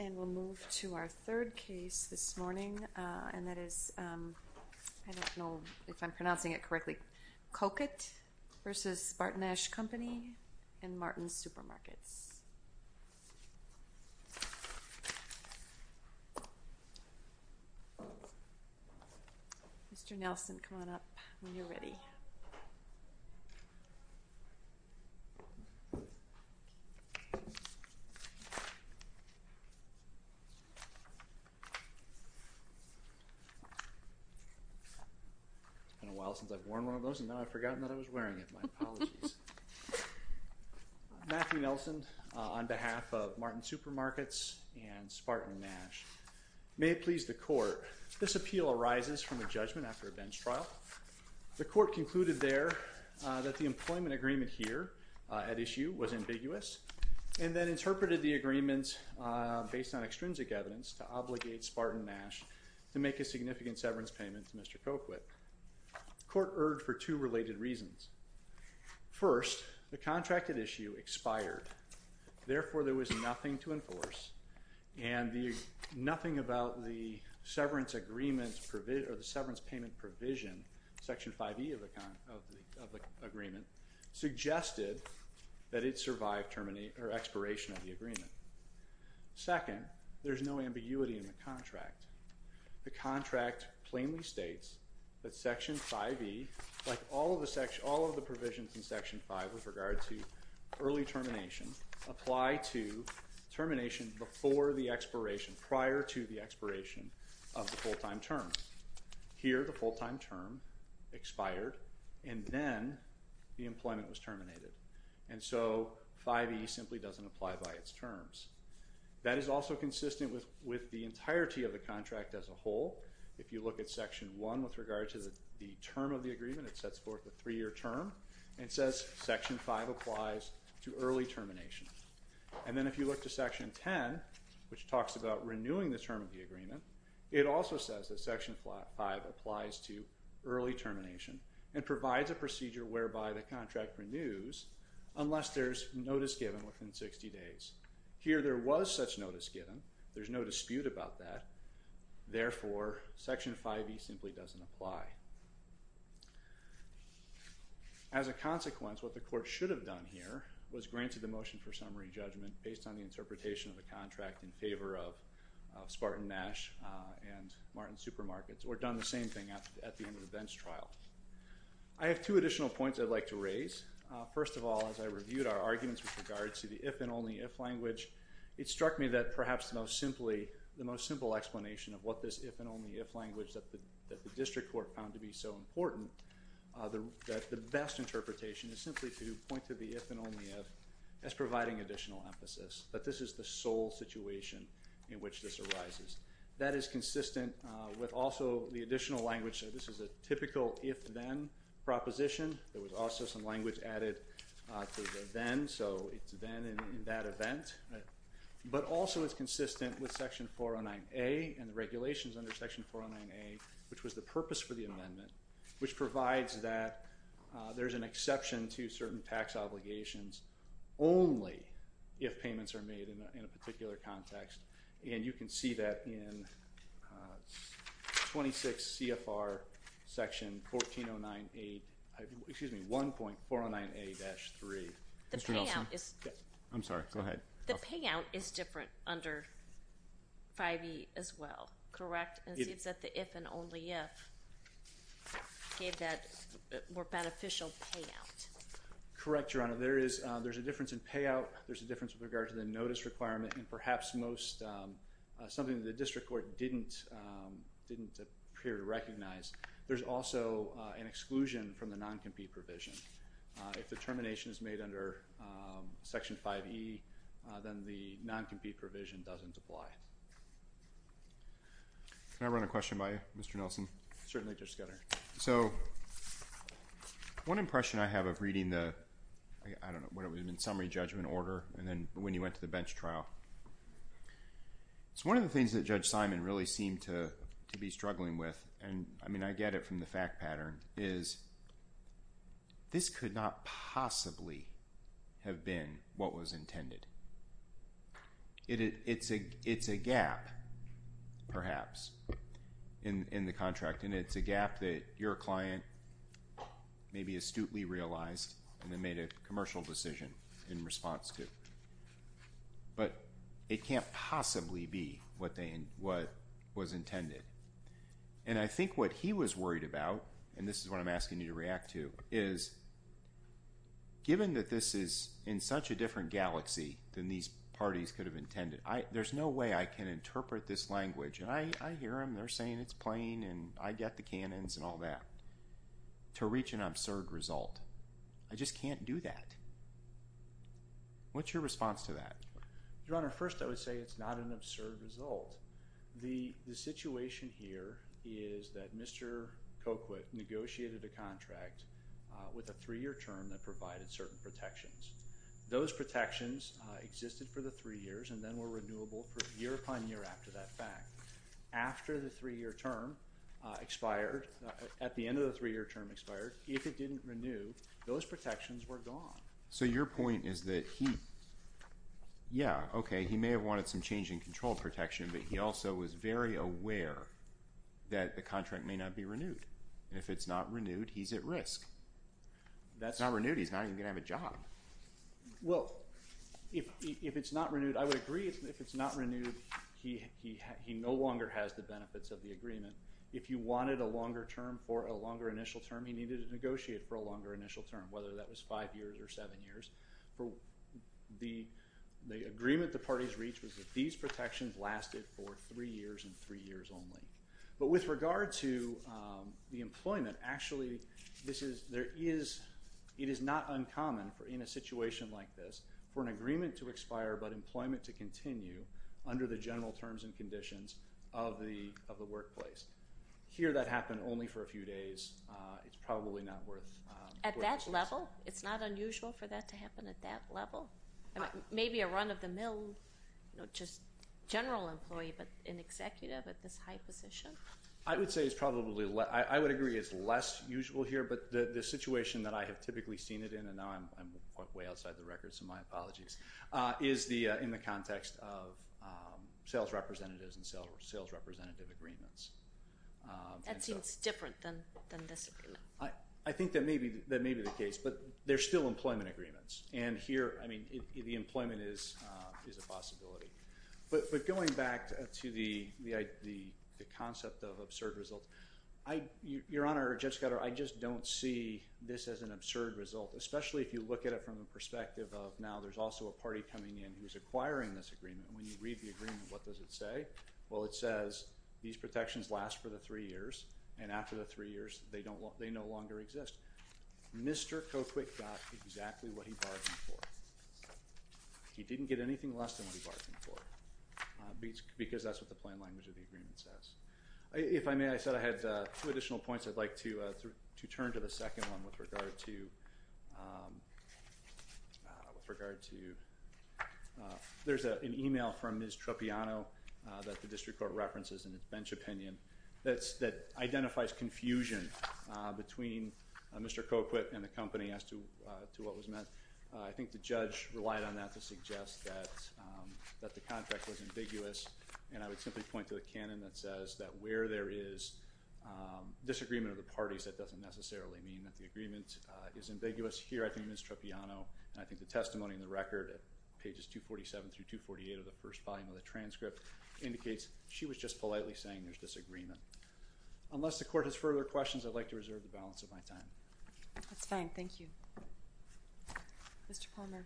And we'll move to our third case this morning, and that is, I don't know if I'm pronouncing it correctly, Cocquyt v. SpartanNash Company in Martin Supermarkets. Mr. Nelson, come on up when you're ready. It's been a while since I've worn one of those, and now I've forgotten that I was wearing it. My apologies. Matthew Nelson on behalf of Martin Supermarkets and SpartanNash. May it please the court, this appeal arises from a judgment after a bench trial. The court concluded there that the employment agreement here at issue was ambiguous, and then interpreted the agreements based on extrinsic evidence to obligate SpartanNash to make a significant severance payment to Mr. Cocquyt. Court erred for two related reasons. First, the contracted issue expired. Therefore, there was nothing to enforce, and nothing about the severance agreement or the severance payment provision, section 5E of the agreement, suggested that it survived termination or expiration of the agreement. Second, there's no ambiguity in the contract. The contract plainly states that section 5E, like all of the provisions in section five with regard to early termination, apply to termination before the expiration, prior to the expiration of the full-time term. Here, the full-time term expired, and then the employment was terminated, and so 5E simply doesn't apply by its terms. That is also consistent with the entirety of the contract as a whole. If you look at section one with regard to the term of the agreement, it sets forth a three-year term, and it says section five applies to early termination. And then if you look to section 10, which talks about renewing the term of the agreement, it also says that section five applies to early termination and provides a procedure whereby the contract renews unless there's notice given within 60 days. Here, there was such notice given. There's no dispute about that. Therefore, section 5E simply doesn't apply. As a consequence, what the court should have done here was granted the motion for summary judgment based on the interpretation of the contract in favor of Spartan Nash and Martin Supermarkets, or done the same thing at the end of the bench trial. I have two additional points I'd like to raise. First of all, as I reviewed our arguments with regards to the if and only if language, it struck me that perhaps the most simple explanation of what this if and only if language that the district court found to be so important, that the best interpretation is simply to point to the if and only if as providing additional emphasis, that this is the sole situation in which this arises. That is consistent with also the additional language. This is a typical if then proposition. There was also some language added to the then, so it's then in that event, but also it's consistent with section 409A and the regulations under section 409A, which was the purpose for the amendment, which provides that there's an exception to certain tax obligations only if payments are made in a particular context. And you can see that in 26 CFR section 1409A, excuse me, 1.409A-3. Mr. Nelson. I'm sorry, go ahead. The payout is different under 5E as well, correct? And it seems that the if and only if gave that more beneficial payout. Correct, Your Honor. There's a difference in payout. There's a difference with regard to the notice requirement and perhaps most, something that the district court didn't appear to recognize. There's also an exclusion from the non-compete provision. If the termination is made under section 5E, then the non-compete provision doesn't apply. Can I run a question by you, Mr. Nelson? Certainly, Judge Scudder. So, one impression I have of reading the, I don't know, what it was in summary judgment order and then when you went to the bench trial. It's one of the things that Judge Simon really seemed to be struggling with. And I mean, I get it from the fact pattern is this could not possibly have been what was intended. It's a gap, perhaps, in the contract. It's a gap that your client maybe astutely realized and then made a commercial decision in response to. But it can't possibly be what was intended. And I think what he was worried about, and this is what I'm asking you to react to, is given that this is in such a different galaxy than these parties could have intended, there's no way I can interpret this language. And I hear them, they're saying it's plain and I get the canons and all that, to reach an absurd result. I just can't do that. What's your response to that? Your Honor, first I would say it's not an absurd result. The situation here is that Mr. Coquitt negotiated a contract with a three-year term that provided certain protections. Those protections existed for the three years and then were renewable for year upon year after that fact. After the three-year term expired, at the end of the three-year term expired, if it didn't renew, those protections were gone. So your point is that he, yeah, okay, he may have wanted some change in control protection but he also was very aware that the contract may not be renewed. And if it's not renewed, he's at risk. If it's not renewed, he's not even going to have a job. Well, if it's not renewed, I would agree if it's not renewed, he no longer has the benefits of the agreement. If you wanted a longer term for a longer initial term, he needed to negotiate for a longer initial term, whether that was five years or seven years. The agreement the parties reached was that these protections lasted for three years and three years only. But with regard to the employment, actually, it is not uncommon in a situation like this for an agreement to expire but employment to continue under the general terms and conditions of the workplace. Here that happened only for a few days. It's probably not worth- At that level? It's not unusual for that to happen at that level? Maybe a run of the mill, just general employee, but an executive at this high position? I would say it's probably, I would agree it's less usual here, but the situation that I have typically seen it in, and now I'm way outside the record, so my apologies, is in the context of sales representatives and sales representative agreements. That seems different than this agreement. I think that may be the case, but there's still employment agreements. And here, I mean, the employment is a possibility. But going back to the concept of absurd results, Your Honor, Judge Scudder, I just don't see this as an absurd result, especially if you look at it from the perspective of, now there's also a party coming in who's acquiring this agreement. When you read the agreement, what does it say? Well, it says these protections last for the three years, and after the three years, they no longer exist. Mr. Coquit got exactly what he bargained for. He didn't get anything less than what he bargained for, because that's what the plain language of the agreement says. If I may, I said I had two additional points I'd like to turn to the second one with regard to, there's an email from Ms. Tropiano that the district court references in its bench opinion that identifies confusion between Mr. Coquit and the company as to what was meant. I think the judge relied on that to suggest that the contract was ambiguous. And I would simply point to the canon that says that where there is disagreement of the parties, that doesn't necessarily mean that the agreement is ambiguous. Here, I think Ms. Tropiano, and I think the testimony in the record at pages 247 through 248 of the first volume of the transcript indicates she was just politely saying there's disagreement. Unless the court has further questions, I'd like to reserve the balance of my time. That's fine, thank you. Mr. Palmer.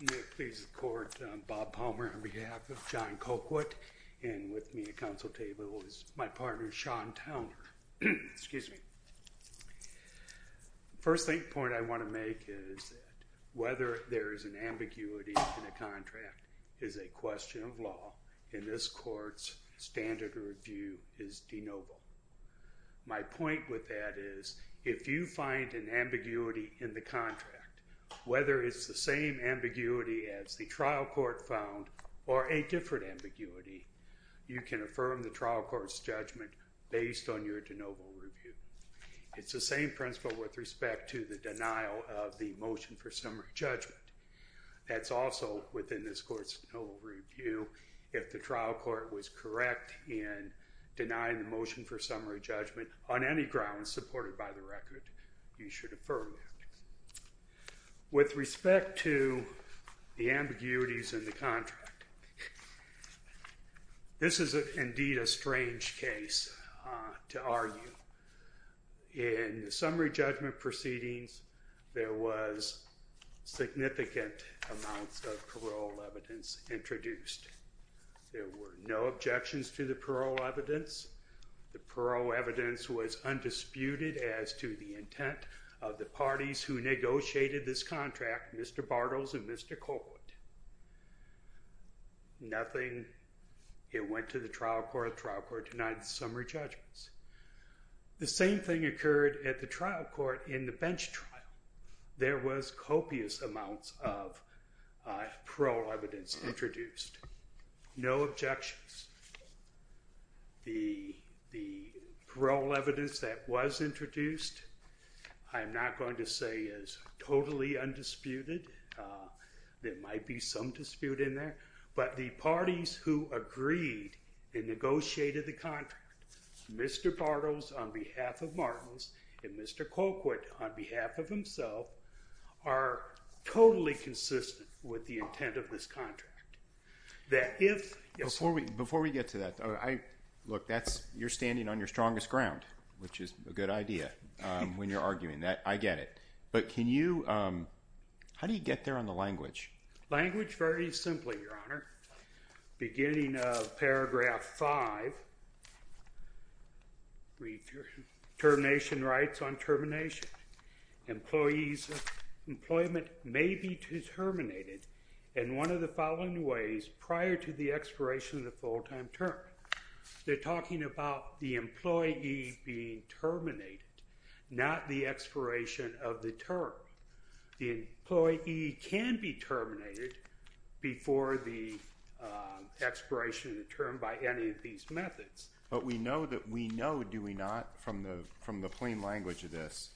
May it please the court, I'm Bob Palmer, on behalf of John Coquit. And with me at council table is my partner, Sean Towner. Excuse me. First point I want to make is whether there is an ambiguity in a contract is a question of law. In this court's standard review is de novo. My point with that is, if you find an ambiguity in the contract, whether it's the same ambiguity as the trial court found or a different ambiguity, you can affirm the trial court's judgment based on your de novo review. It's the same principle with respect to the denial of the motion for summary judgment. That's also within this court's de novo review. If the trial court was correct in denying the motion for summary judgment on any grounds supported by the record, you should affirm that. With respect to the ambiguities in the contract, this is indeed a strange case to argue. In the summary judgment proceedings, there was significant amounts of parole evidence introduced. There were no objections to the parole evidence. The parole evidence was undisputed as to the intent of the parties who negotiated this contract, Mr. Bartels and Mr. Colquitt. Nothing, it went to the trial court, the trial court denied the summary judgments. The same thing occurred at the trial court in the bench trial. There was copious amounts of parole evidence introduced. No objections. The parole evidence that was introduced, I'm not going to say is totally undisputed. There might be some dispute in there. But the parties who agreed and negotiated the contract, Mr. Bartels on behalf of Martins and Mr. Colquitt on behalf of himself are totally consistent with the intent of this contract. That if... Before we get to that, look, you're standing on your strongest ground, which is a good idea when you're arguing that. I get it. But can you... How do you get there on the language? Language very simply, Your Honor. Beginning of paragraph five, read your termination rights on termination. Employees employment may be terminated. And one of the following ways, prior to the expiration of the full-time term, they're talking about the employee being terminated, not the expiration of the term. The employee can be terminated before the expiration of the term by any of these methods. But we know that we know, do we not, from the plain language of this,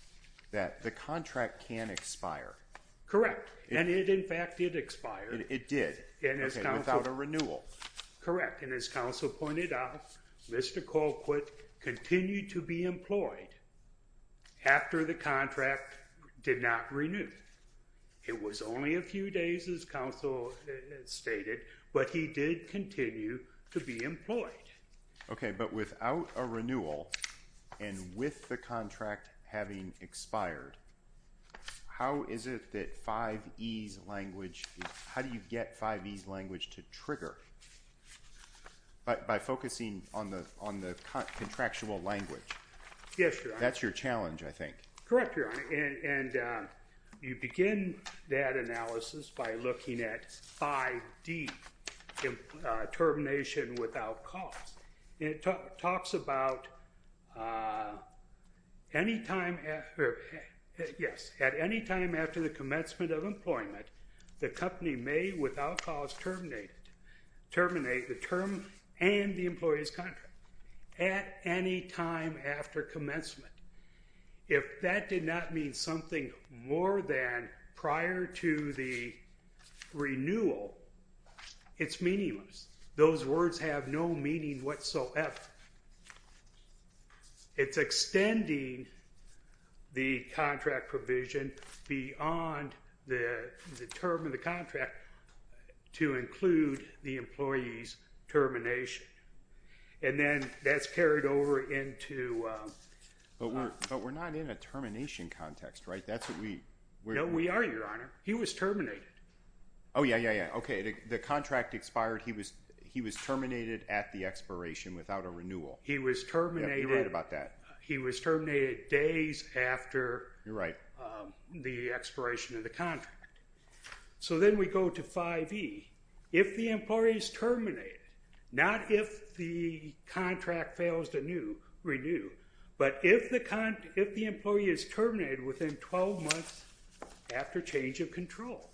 that the contract can expire. Correct. And it, in fact, did expire. It did, without a renewal. Correct. And as counsel pointed out, Mr. Colquitt continued to be employed after the contract did not renew. It was only a few days, as counsel stated, but he did continue to be employed. Okay. But without a renewal and with the contract having expired, how is it that 5E's language, how do you get 5E's language to trigger? But by focusing on the contractual language. Yes, Your Honor. That's your challenge, I think. Correct, Your Honor. And you begin that analysis by looking at 5D, termination without cause. It talks about any time after, yes, at any time after the commencement of employment, the company may without cause terminate it, terminate the term and the employee's contract at any time after commencement. If that did not mean something more than prior to the renewal, it's meaningless. Those words have no meaning whatsoever. It's extending the contract provision beyond the term of the contract to include the employee's termination. And then that's carried over into... But we're not in a termination context, right? That's what we... No, we are, Your Honor. He was terminated. Oh, yeah, yeah, yeah. Okay. The contract expired. He was terminated at the expiration without a renewal. He was terminated... Yeah, you're right about that. He was terminated days after... You're right. ...the expiration of the contract. So then we go to 5E. If the employee is terminated, not if the contract fails to renew, but if the employee is terminated within 12 months after change of control,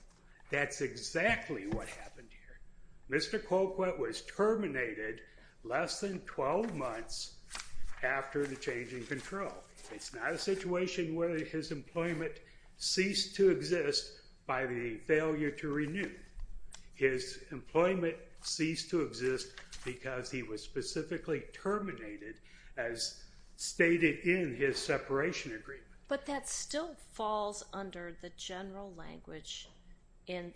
that's exactly what happened here. Mr. Colquitt was terminated less than 12 months after the change in control. It's not a situation where his employment ceased to exist by the failure to renew. His employment ceased to exist because he was specifically terminated as stated in his separation agreement. But that still falls under the general language in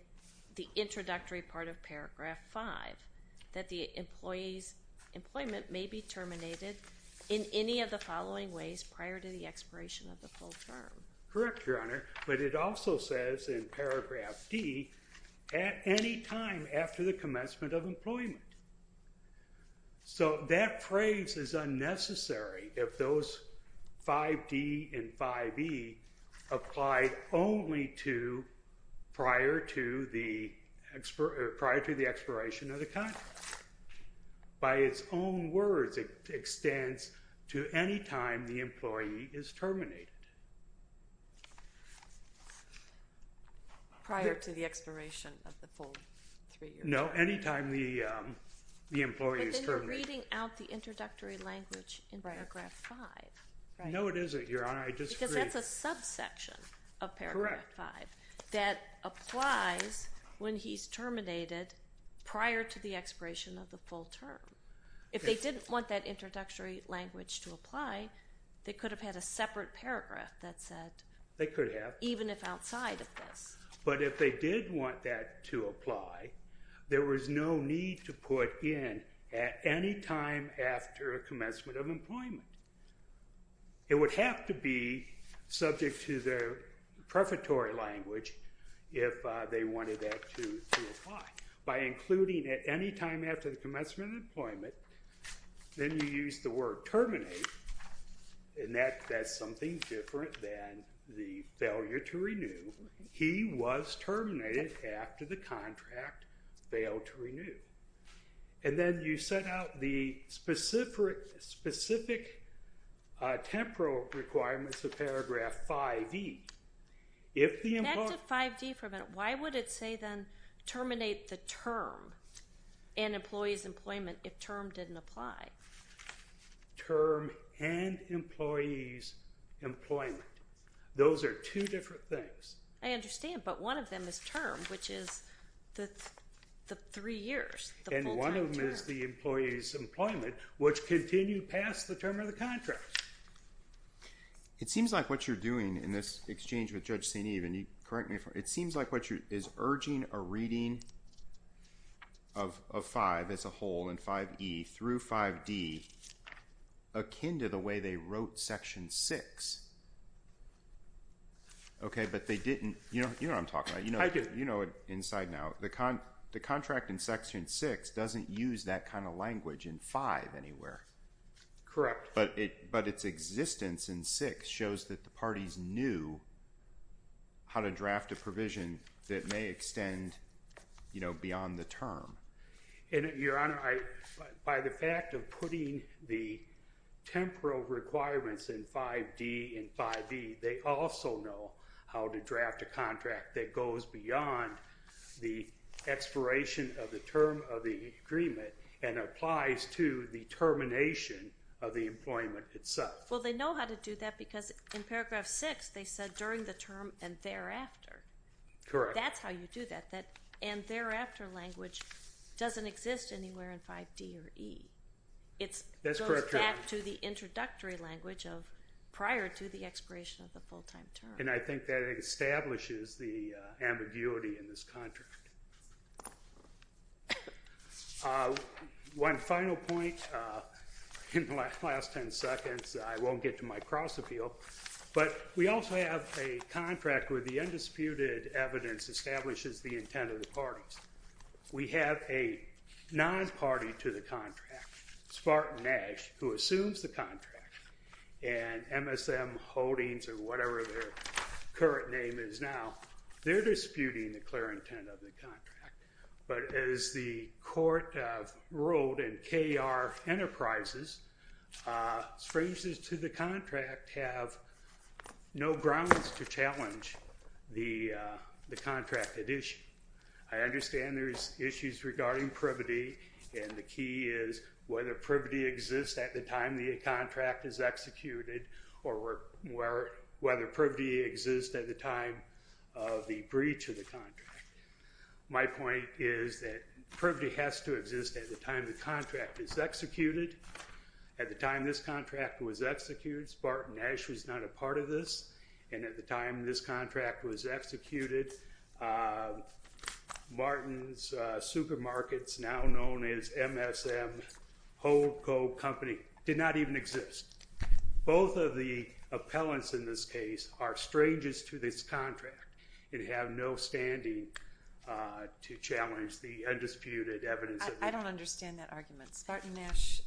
the introductory part of Paragraph 5, that the employee's employment may be terminated in any of the following ways prior to the expiration of the full term. Correct, Your Honor. But it also says in Paragraph D, at any time after the commencement of employment. So that phrase is unnecessary if those 5D and 5E applied only to prior to the expiration of the contract. By its own words, it extends to any time the employee is terminated. Prior to the expiration of the full three years. No, any time the employee is terminated. But then you're reading out the introductory language. No, it isn't, Your Honor. Because that's a subsection of Paragraph 5 that applies when he's terminated prior to the expiration of the full term. If they didn't want that introductory language to apply, they could have had a separate paragraph that said... They could have. Even if outside of this. But if they did want that to apply, there was no need to put in at any time after commencement of employment. It would have to be subject to the prefatory language if they wanted that to apply. By including at any time after the commencement of employment, then you use the word terminate. And that's something different than the failure to renew. He was terminated after the contract failed to renew. And then you set out the specific temporal requirements of Paragraph 5E. If the employee... Next to 5D for a minute. Why would it say then terminate the term and employee's employment if term didn't apply? Term and employee's employment. Those are two different things. I understand. But one of them is term, which is the three years. And one of them is the employee's employment, which continued past the term of the contract. It seems like what you're doing in this exchange with Judge St. Even, correct me if I'm wrong. It seems like what you're... Is urging a reading of 5 as a whole in 5E through 5D akin to the way they wrote Section 6. Okay, but they didn't... You know what I'm talking about. I do. You know it inside and out. The contract in Section 6 doesn't use that kind of language in 5 anywhere. Correct. But its existence in 6 shows that the parties knew how to draft a provision that may extend beyond the term. And Your Honor, by the fact of putting the temporal requirements in 5D and 5E, they also know how to draft a contract that goes beyond the expiration of the term of the agreement and applies to the termination of the employment itself. Well, they know how to do that because in Paragraph 6, they said during the term and thereafter. Correct. That's how you do that. And thereafter language doesn't exist anywhere in 5D or E. It goes back to the introductory language prior to the expiration of the full-time term. And I think that establishes the ambiguity in this contract. One final point in the last 10 seconds. I won't get to my cross-appeal, but we also have a contract where the undisputed evidence establishes the intent of the parties. We have a non-party to the contract, Spartan Nash, who assumes the contract. And MSM Holdings, or whatever their current name is now, they're disputing the clear intent of the contract. But as the court ruled in KR Enterprises, strangers to the contract have no grounds to challenge the contract at issue. I understand there's issues regarding privity, and the key is whether privity exists at the time the contract is executed or whether privity exists at the time of the breach of the contract. My point is that privity has to exist at the time the contract is executed. At the time this contract was executed, Spartan Nash was not a part of this. And at the time this contract was executed, Martin's Supermarkets, now known as MSM HoldCo Company, did not even exist. Both of the appellants in this case are strangers to this contract and have no standing to challenge the undisputed evidence of it. I don't understand that argument. Spartan Nash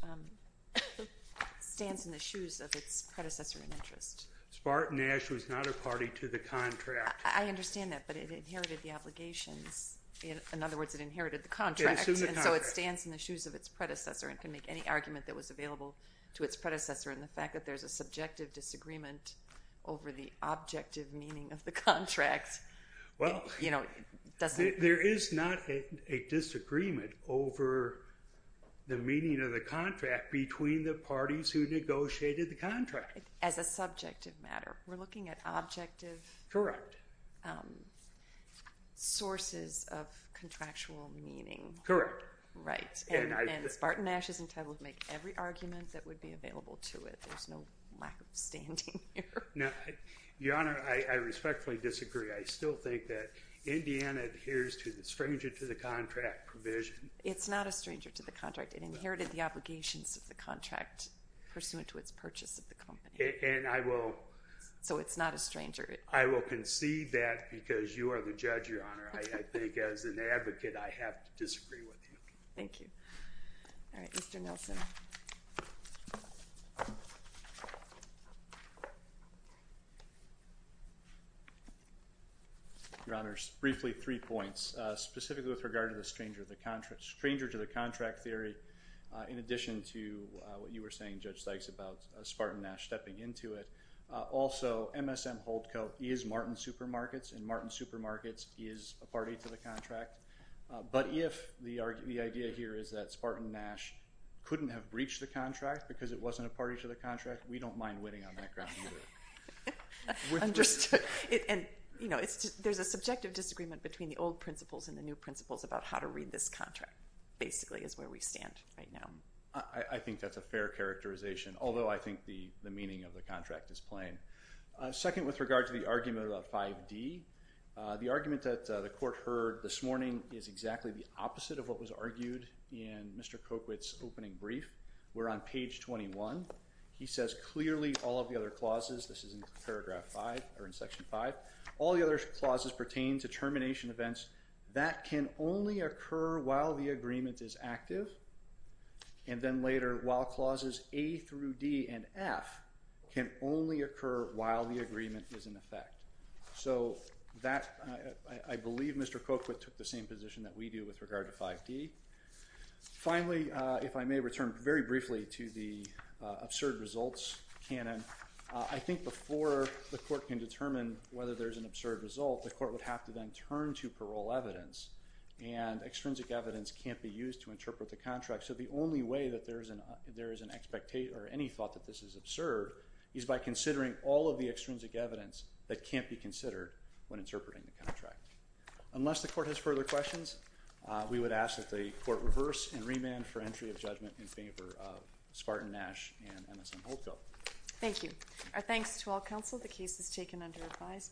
stands in the shoes of its predecessor in interest. Spartan Nash was not a party to the contract. I understand that, but it inherited the obligations. In other words, it inherited the contract, and so it stands in the shoes of its predecessor and can make any argument that was available to its predecessor. And the fact that there's a subjective disagreement over the objective meaning of the contract, well, you know, doesn't... There is not a disagreement over the meaning of the contract between the parties who negotiated the contract. As a subjective matter. We're looking at objective... Correct. Sources of contractual meaning. Correct. Right. And Spartan Nash is entitled to make every argument that would be available to it. There's no lack of standing here. Now, Your Honor, I respectfully disagree. I still think that Indiana adheres to the stranger to the contract provision. It's not a stranger to the contract. It inherited the obligations of the contract pursuant to its purchase of the company. And I will... So it's not a stranger. I will concede that because you are the judge, Your Honor. I think as an advocate, I have to disagree with you. Thank you. All right, Mr. Nelson. Your Honor, briefly three points. Specifically with regard to the stranger to the contract theory in addition to what you were saying, Judge Sykes, about Spartan Nash stepping into it. Also, MSM Holdcoat is Martin Supermarkets, and Martin Supermarkets is a party to the contract. But if the idea here is that Spartan Nash couldn't have breached the contract because it wasn't a party to the contract, we don't mind winning on that ground either. I'm just... And, you know, there's a subjective disagreement between the old principles and the new principles about how to read this contract, basically, is where we stand right now. I think that's a fair characterization, although I think the meaning of the contract is plain. Second, with regard to the argument about 5D, the argument that the court heard this morning is exactly the opposite of what was argued in Mr. Kokwit's opening brief. We're on page 21. He says, clearly, all of the other clauses, this is in paragraph five or in section five, all the other clauses pertain to termination events that can only occur while the agreement is active. And then later, while clauses A through D and F can only occur while the agreement is in effect. So that, I believe Mr. Kokwit took the same position that we do with regard to 5D. Finally, if I may return very briefly to the absurd results canon, I think before the court can determine whether there's an absurd result, the court would have to then turn to parole evidence. And extrinsic evidence can't be used to interpret the contract. So the only way that there is an expectation or any thought that this is absurd is by considering all of the extrinsic evidence that can't be considered when interpreting the contract. Unless the court has further questions, we would ask that the court reverse and remand for entry of judgment in favor of Spartan-Nash and Emerson-Holco. Thank you. Our thanks to all counsel. The case is taken under advisement.